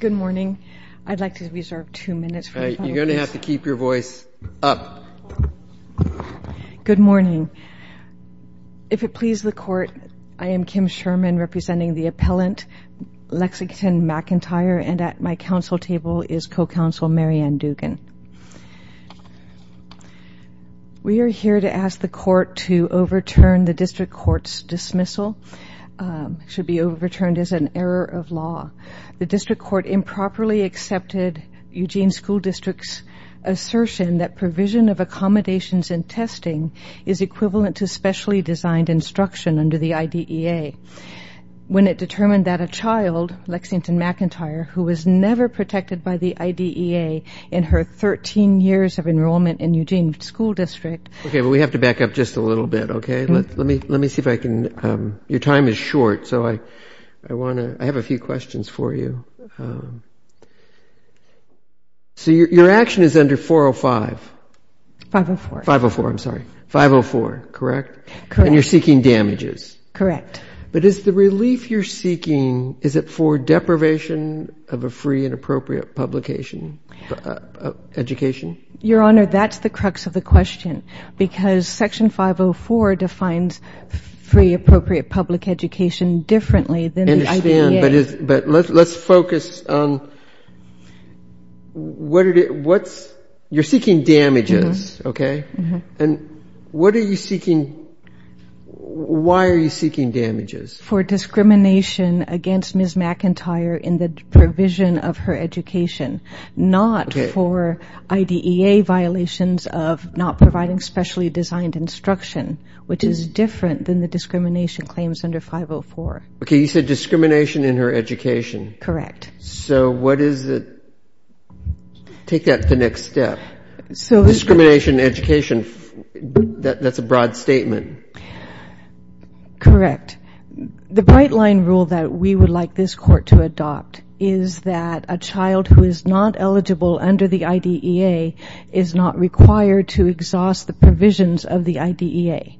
Good morning. I'd like to reserve two minutes for the final case. You're going to have to keep your voice up. Good morning. If it pleases the Court, I am Kim Sherman, representing the appellant Lexington McIntyre, and at my counsel table is co-counsel Mary Ann Dugan. We are here to ask the Court to overturn the District Court's dismissal. It should be overturned as an error of law. The District Court improperly accepted Eugene School District's assertion that provision of accommodations and testing is equivalent to specially designed instruction under the IDEA when it determined that a child, Lexington McIntyre, who was never protected by the IDEA in her 13 years of enrollment in Eugene School District Okay, but we have to back up just a little bit, okay? Let me see if I can, your time is short, so I want to, I have a few questions for you. So your action is under 405. 504. 504, I'm sorry. 504, correct? Correct. And you're seeking damages. Correct. But is the relief you're seeking, is it for deprivation of a free and appropriate publication, education? Your Honor, that's the crux of the question, because Section 504 defines free appropriate public education differently than the IDEA. I understand, but let's focus on what are the, what's, you're seeking damages, okay? And what are you seeking, why are you seeking damages? For discrimination against Ms. McIntyre in the provision of her education, not for IDEA violations of not providing specially designed instruction, which is different than the discrimination claims under 504. Okay, you said discrimination in her education. Correct. So what is the, take that to the next step. So discrimination in education, that's a broad statement. Correct. The bright line rule that we would like this Court to adopt is that a child who is not eligible under the IDEA is not required to exhaust the provisions of the IDEA.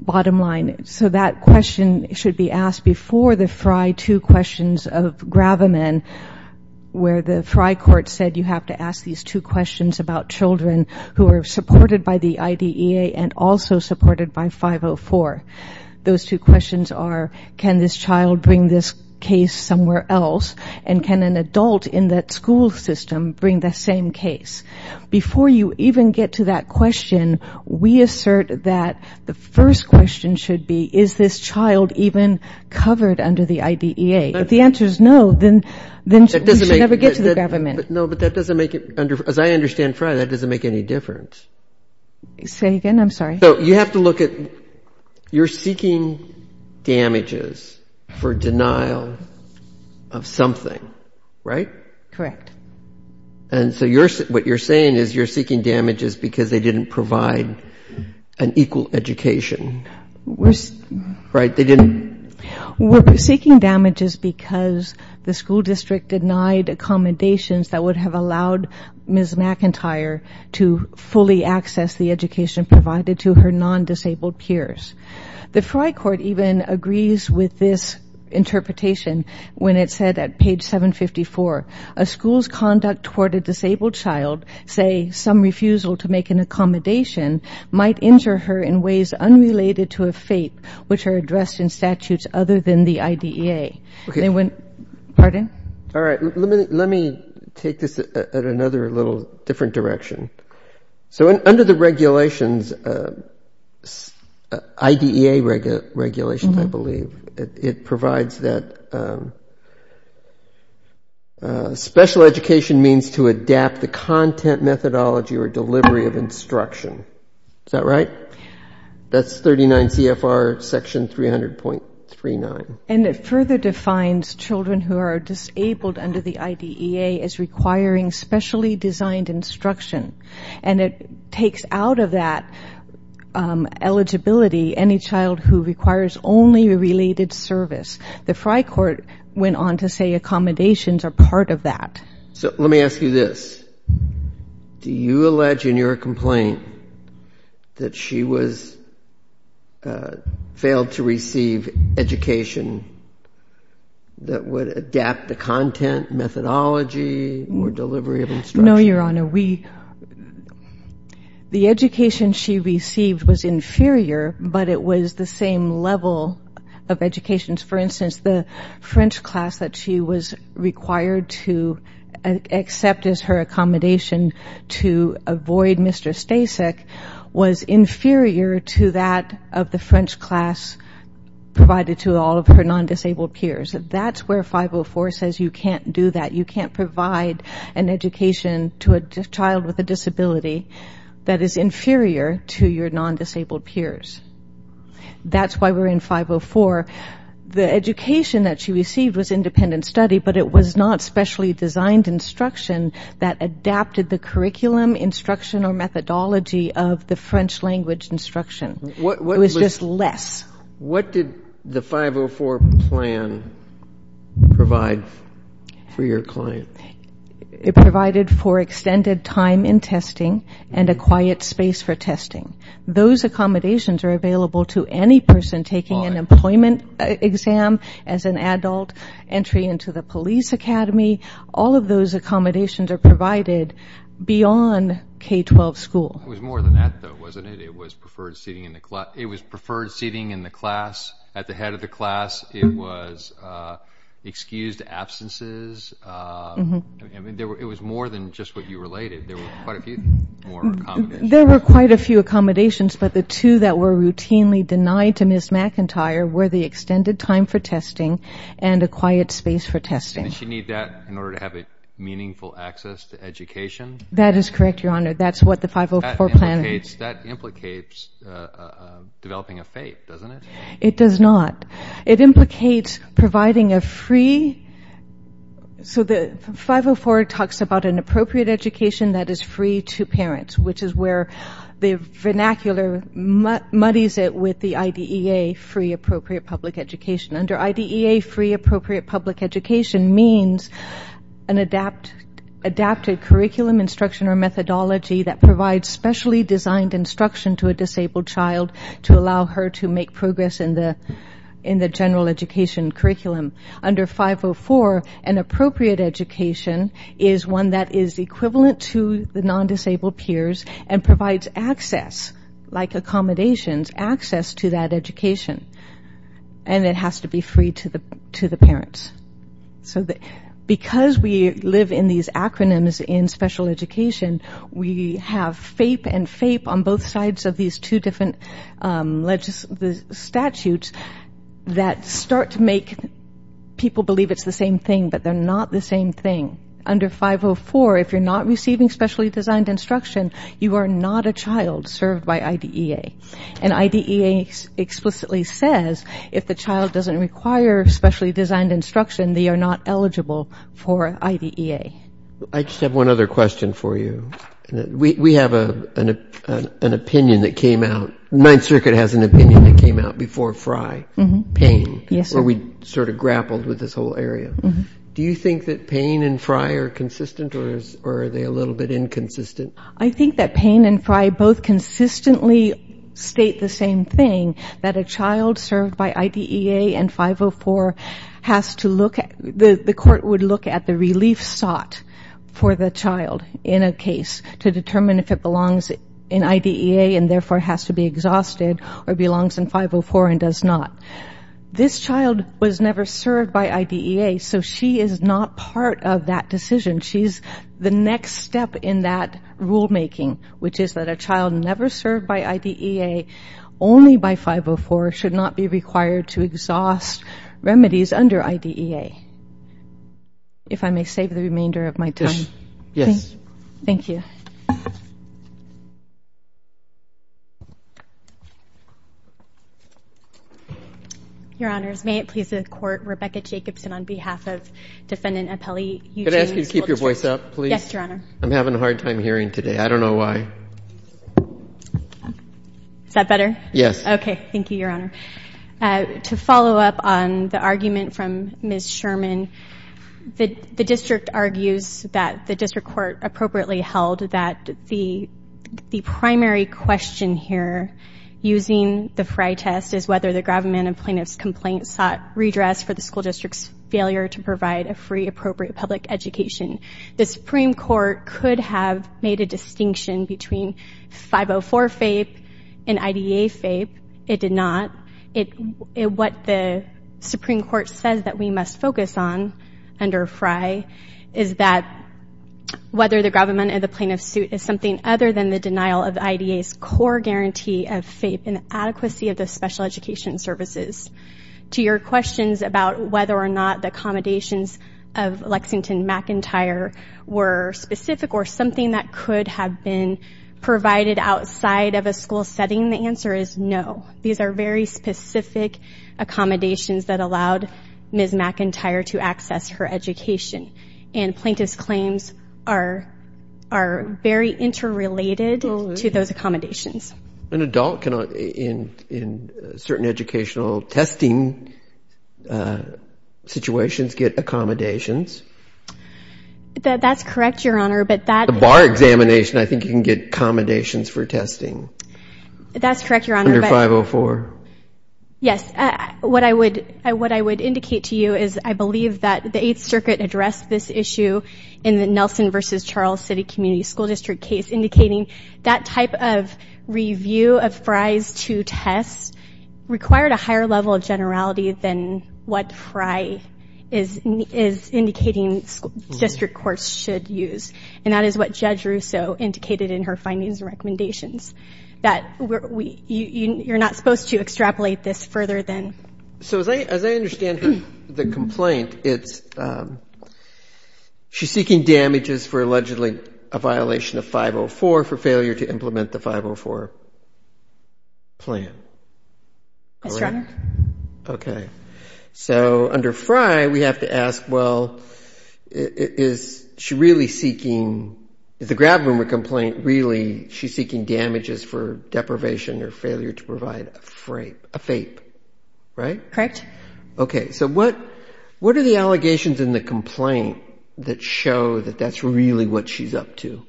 Bottom line. So that question should be asked before the FRI 2 questions of Graviman, where the FRI Court said you have to ask these two questions about children who are supported by the IDEA and also supported by 504. Those two questions are can this child bring this case somewhere else and can an adult in that school system bring the same case. Before you even get to that question, we assert that the first question should be, is this child even covered under the IDEA? If the answer is no, then we should never get to the Graviman. No, but that doesn't make it, as I understand FRI, that doesn't make any difference. Say again, I'm sorry. So you have to look at, you're seeking damages for denial of something, right? Correct. And so what you're saying is you're seeking damages because they didn't provide an equal education, right? We're seeking damages because the school district denied accommodations that would have allowed Ms. McIntyre to fully access the education provided to her non-disabled peers. The FRI Court even agrees with this interpretation when it said at page 754, a school's conduct toward a disabled child, say some refusal to make an accommodation, might injure her in ways unrelated to a fate which are addressed in statutes other than the IDEA. Okay. Pardon? All right. Let me take this at another little different direction. So under the regulations, IDEA regulations, I believe, it provides that special education means to adapt the content methodology or delivery of instruction. Is that right? That's 39 CFR section 300.39. And it further defines children who are disabled under the IDEA as requiring specially designed instruction. And it takes out of that eligibility any child who requires only related service. The FRI Court went on to say accommodations are part of that. So let me ask you this. Do you allege in your complaint that she failed to receive education that would adapt the content, methodology, or delivery of instruction? No, Your Honor. The education she received was inferior, but it was the same level of education. For instance, the French class that she was required to accept as her accommodation to avoid Mr. Stasek was inferior to that of the French class provided to all of her non-disabled peers. That's where 504 says you can't do that. You can't provide an education to a child with a disability that is inferior to your non-disabled peers. That's why we're in 504. The education that she received was independent study, but it was not specially designed instruction that adapted the curriculum, instruction, or methodology of the French language instruction. It was just less. What did the 504 plan provide for your client? It provided for extended time in testing and a quiet space for testing. Those accommodations are available to any person taking an employment exam as an adult, entry into the police academy. All of those accommodations are provided beyond K-12 school. It was more than that, though, wasn't it? It was preferred seating in the class, at the head of the class. It was excused absences. It was more than just what you related. There were quite a few more accommodations. There were quite a few accommodations, but the two that were routinely denied to Ms. McIntyre were the extended time for testing and a quiet space for testing. Did she need that in order to have meaningful access to education? That is correct, Your Honor. That implicates developing a faith, doesn't it? It does not. It implicates providing a free. So the 504 talks about an appropriate education that is free to parents, which is where the vernacular muddies it with the IDEA, free appropriate public education. Under IDEA, free appropriate public education means an adapted curriculum, instruction, or methodology that provides specially designed instruction to a disabled child to allow her to make progress in the general education curriculum. Under 504, an appropriate education is one that is equivalent to the non-disabled peers and provides access, like accommodations, access to that education. And it has to be free to the parents. Because we live in these acronyms in special education, we have FAPE and FAPE on both sides of these two different statutes that start to make people believe it's the same thing, but they're not the same thing. Under 504, if you're not receiving specially designed instruction, you are not a child served by IDEA. And IDEA explicitly says if the child doesn't require specially designed instruction, they are not eligible for IDEA. I just have one other question for you. We have an opinion that came out, Ninth Circuit has an opinion that came out before FRI, pain, where we sort of grappled with this whole area. Do you think that pain and FRI are consistent, or are they a little bit inconsistent? I think that pain and FRI both consistently state the same thing, that a child served by IDEA and 504 has to look at, the court would look at the relief sought for the child in a case to determine if it belongs in IDEA and therefore has to be exhausted or belongs in 504 and does not. This child was never served by IDEA, so she is not part of that decision. She's the next step in that rulemaking, which is that a child never served by IDEA only by 504 should not be required to exhaust remedies under IDEA. If I may save the remainder of my time. Yes. Your Honors, may it please the Court, Rebecca Jacobson on behalf of Defendant Appellee Eugene. Could I ask you to keep your voice up, please? Yes, Your Honor. I'm having a hard time hearing today. I don't know why. Is that better? Yes. Okay. Thank you, Your Honor. To follow up on the argument from Ms. Sherman, the district argues that the district court appropriately held that the primary question here using the FRI test is whether the government and plaintiff's complaint sought redress for the school district's failure to provide a free appropriate public education. The Supreme Court could have made a distinction between 504 FAPE and IDEA FAPE. It did not. What the Supreme Court says that we must focus on under FRI is that whether the government and the plaintiff's suit is something other than the denial of IDEA's core guarantee of FAPE and the adequacy of the special education services. To your questions about whether or not the accommodations of Lexington McIntyre were specific or something that could have been provided outside of a school setting, the answer is no. These are very specific accommodations that allowed Ms. McIntyre to access her education. And plaintiff's claims are very interrelated to those accommodations. An adult can, in certain educational testing situations, get accommodations. That's correct, Your Honor. A bar examination, I think, can get accommodations for testing. That's correct, Your Honor. Under 504. Yes. What I would indicate to you is I believe that the Eighth Circuit addressed this issue in the Nelson v. Charles City Community School District case, indicating that type of review of FRI's two tests required a higher level of generality than what FRI is indicating district courts should use. And that is what Judge Russo indicated in her findings and recommendations, that you're not supposed to extrapolate this further than. So as I understand the complaint, she's seeking damages for allegedly a violation of 504 for failure to implement the 504 plan. Yes, Your Honor. Okay. So under FRI, we have to ask, well, is she really seeking, is the Grab Room a complaint really she's seeking damages for deprivation or failure to provide a FAPE, right? Correct. Okay. So what are the allegations in the complaint that show that that's really what she's up to?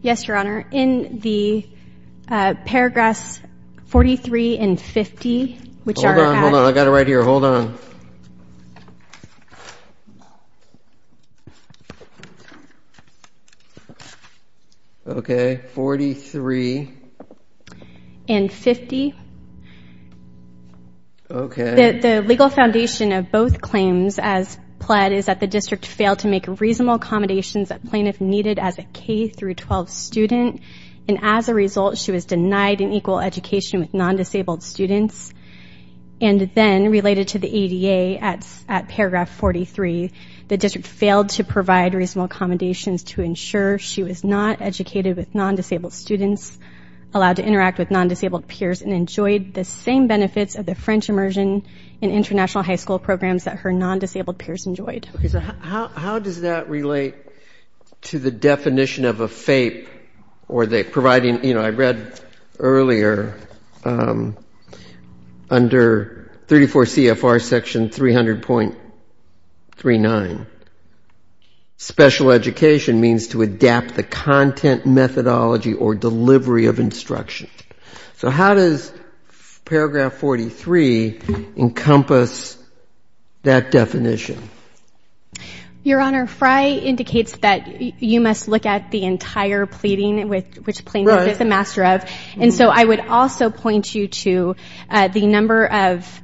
Yes, Your Honor. In the paragraphs 43 and 50, which are about... Hold on, hold on. I've got it right here. Hold on. Okay. Forty-three. And 50. Okay. The legal foundation of both claims as pled is that the district failed to make reasonable accommodations that plaintiff needed as a K-12 student. And as a result, she was denied an equal education with non-disabled students. And then, related to the ADA, at paragraph 43, the district failed to provide reasonable accommodations to ensure she was not educated with non-disabled students, allowed to interact with non-disabled peers, and enjoyed the same benefits of the French immersion in international high school programs that her non-disabled peers enjoyed. Okay. So how does that relate to the definition of a FAPE, or the providing... You know, I read earlier, under 34 CFR section 300.39, special education means to adapt the content methodology or delivery of instruction. So how does paragraph 43 encompass that definition? Your Honor, Frey indicates that you must look at the entire pleading, which plaintiff is the master of. And so I would also point you to the number of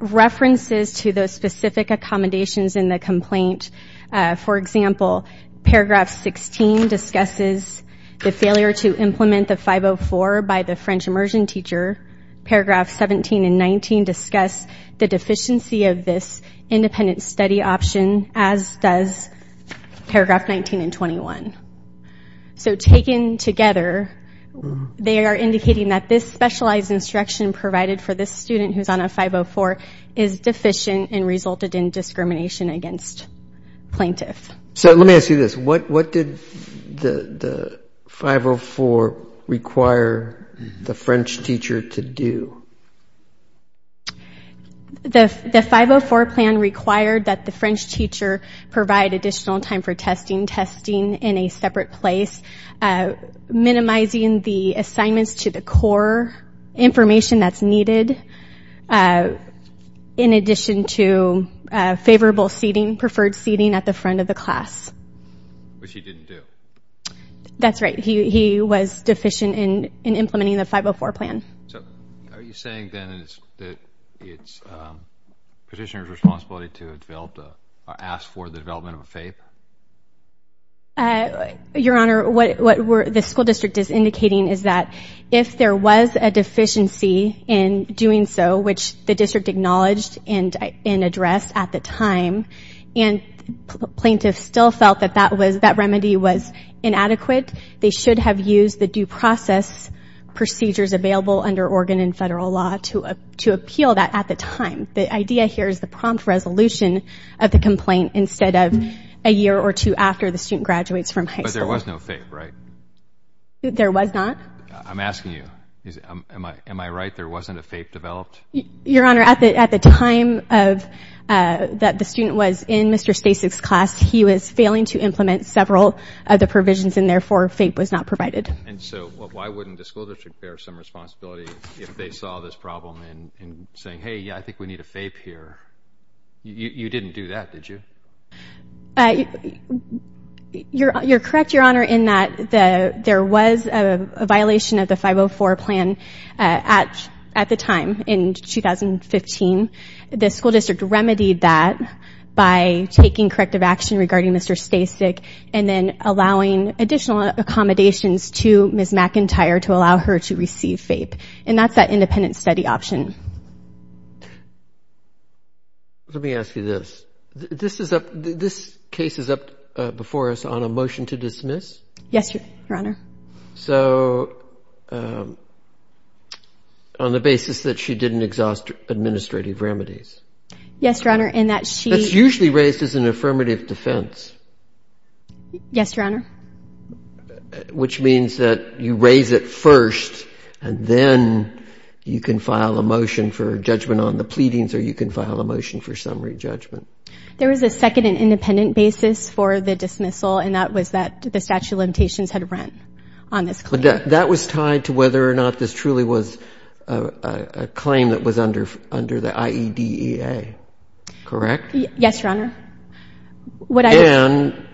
references to those specific accommodations in the complaint. For example, paragraph 16 discusses the failure to implement the 504 by the French immersion teacher. Paragraph 17 and 19 discuss the deficiency of this independent study option, as does paragraph 19 and 21. So taken together, they are indicating that this specialized instruction provided for this student who is on a 504 is deficient and resulted in discrimination against plaintiff. So let me ask you this. What did the 504 require the French teacher to do? The 504 plan required that the French teacher provide additional time for testing, testing in a separate place, minimizing the assignments to the core information that's needed, in addition to favorable seating, preferred seating at the front of the class. Which he didn't do. That's right. He was deficient in implementing the 504 plan. So are you saying then that it's petitioner's responsibility to develop or ask for the development of a FAPE? Your Honor, what the school district is indicating is that if there was a deficiency in doing so, which the district acknowledged and addressed at the time, and plaintiffs still felt that that remedy was inadequate, they should have used the due process procedures available under Oregon and federal law to appeal that at the time. The idea here is the prompt resolution of the complaint instead of a year or two after the student graduates from high school. But there was no FAPE, right? There was not. I'm asking you. Am I right? There wasn't a FAPE developed? Your Honor, at the time that the student was in Mr. Stasek's class, he was failing to implement several of the provisions and, therefore, FAPE was not provided. And so why wouldn't the school district bear some responsibility if they saw this problem and saying, hey, yeah, I think we need a FAPE here? You didn't do that, did you? You're correct, Your Honor, in that there was a violation of the 504 plan at the time in 2015. The school district remedied that by taking corrective action regarding Mr. Stasek and then allowing additional accommodations to Ms. McIntyre to allow her to receive FAPE. And that's that independent study option. Let me ask you this. This case is up before us on a motion to dismiss? Yes, Your Honor. So on the basis that she didn't exhaust administrative remedies? Yes, Your Honor, in that she- Yes, Your Honor. Which means that you raise it first and then you can file a motion for judgment on the pleadings or you can file a motion for summary judgment. There was a second and independent basis for the dismissal, and that was that the statute of limitations had rent on this claim. That was tied to whether or not this truly was a claim that was under the IEDEA, correct? Yes, Your Honor. And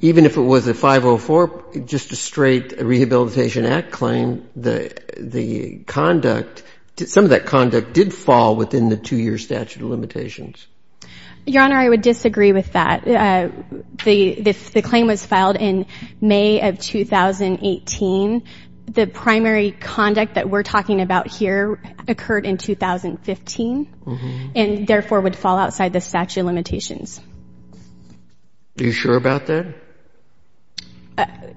even if it was a 504, just a straight Rehabilitation Act claim, the conduct, some of that conduct did fall within the two-year statute of limitations. Your Honor, I would disagree with that. The claim was filed in May of 2018. The primary conduct that we're talking about here occurred in 2015 and therefore would fall outside the statute of limitations. Are you sure about that?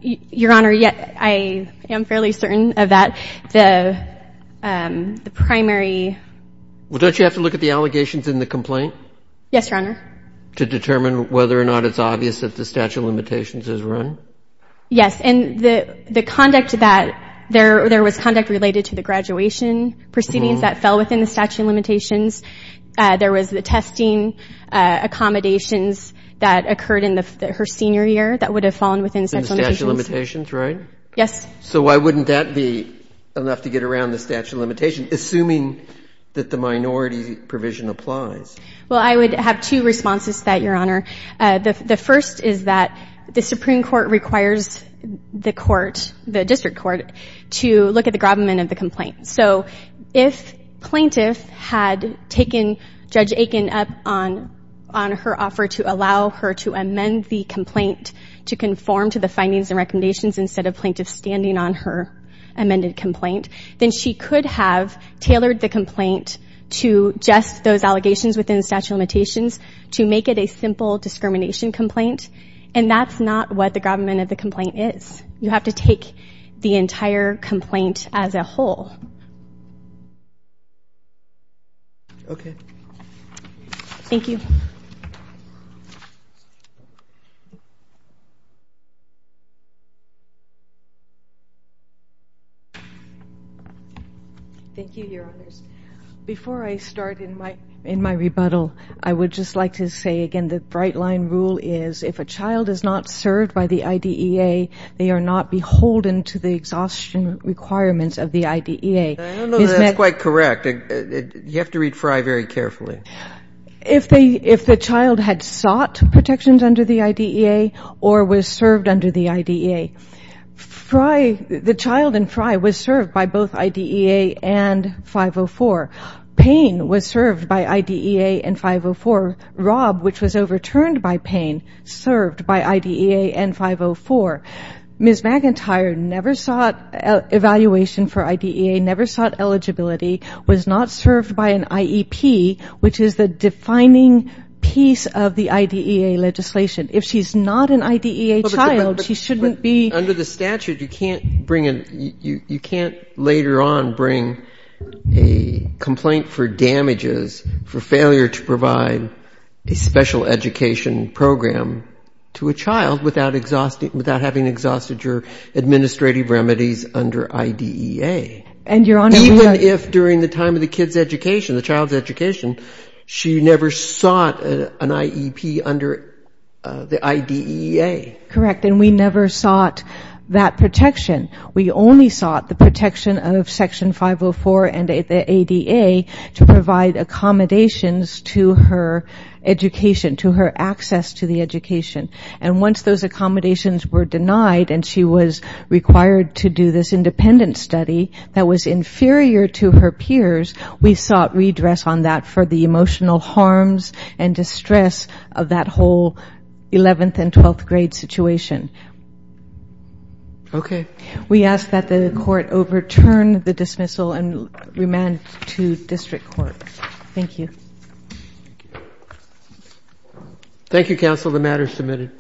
Your Honor, yes, I am fairly certain of that. The primary- Well, don't you have to look at the allegations in the complaint? Yes, Your Honor. To determine whether or not it's obvious that the statute of limitations is run? Yes, and the conduct that there was conduct related to the graduation proceedings that fell within the statute of limitations. There was the testing accommodations that occurred in her senior year that would have fallen within the statute of limitations. In the statute of limitations, right? Yes. So why wouldn't that be enough to get around the statute of limitations, assuming that the minority provision applies? Well, I would have two responses to that, Your Honor. The first is that the Supreme Court requires the court, the district court, to look at the gravamen of the complaint. So if plaintiff had taken Judge Aiken up on her offer to allow her to amend the complaint to conform to the findings and recommendations instead of plaintiff standing on her amended complaint, then she could have tailored the complaint to just those allegations within the statute of limitations to make it a simple discrimination complaint, and that's not what the gravamen of the complaint is. You have to take the entire complaint as a whole. Okay. Thank you. Thank you, Your Honors. Before I start in my rebuttal, I would just like to say again the bright line rule is if a child is not served by the IDEA, they are not beholden to the exhaustion requirements of the IDEA. I don't know that that's quite correct. You have to read Frye very carefully. If the child had sought protections under the IDEA or was served under the IDEA, Frye, the child in Frye, was served by both IDEA and 504. Payne was served by IDEA and 504. Rob, which was overturned by Payne, served by IDEA and 504. Ms. McIntyre never sought evaluation for IDEA, never sought eligibility, was not served by an IEP, which is the defining piece of the IDEA legislation. If she's not an IDEA child, she shouldn't be ---- a special education program to a child without having exhausted your administrative remedies under IDEA. Even if during the time of the kid's education, the child's education, she never sought an IEP under the IDEA. Correct. And we never sought that protection. We only sought the protection of Section 504 and the ADA to provide accommodations to her education, to her access to the education. And once those accommodations were denied and she was required to do this independent study that was inferior to her peers, we sought redress on that for the emotional harms and distress of that whole 11th and 12th grade situation. Okay. We ask that the court overturn the dismissal and remand to district court. Thank you. Thank you, counsel. The matter is submitted.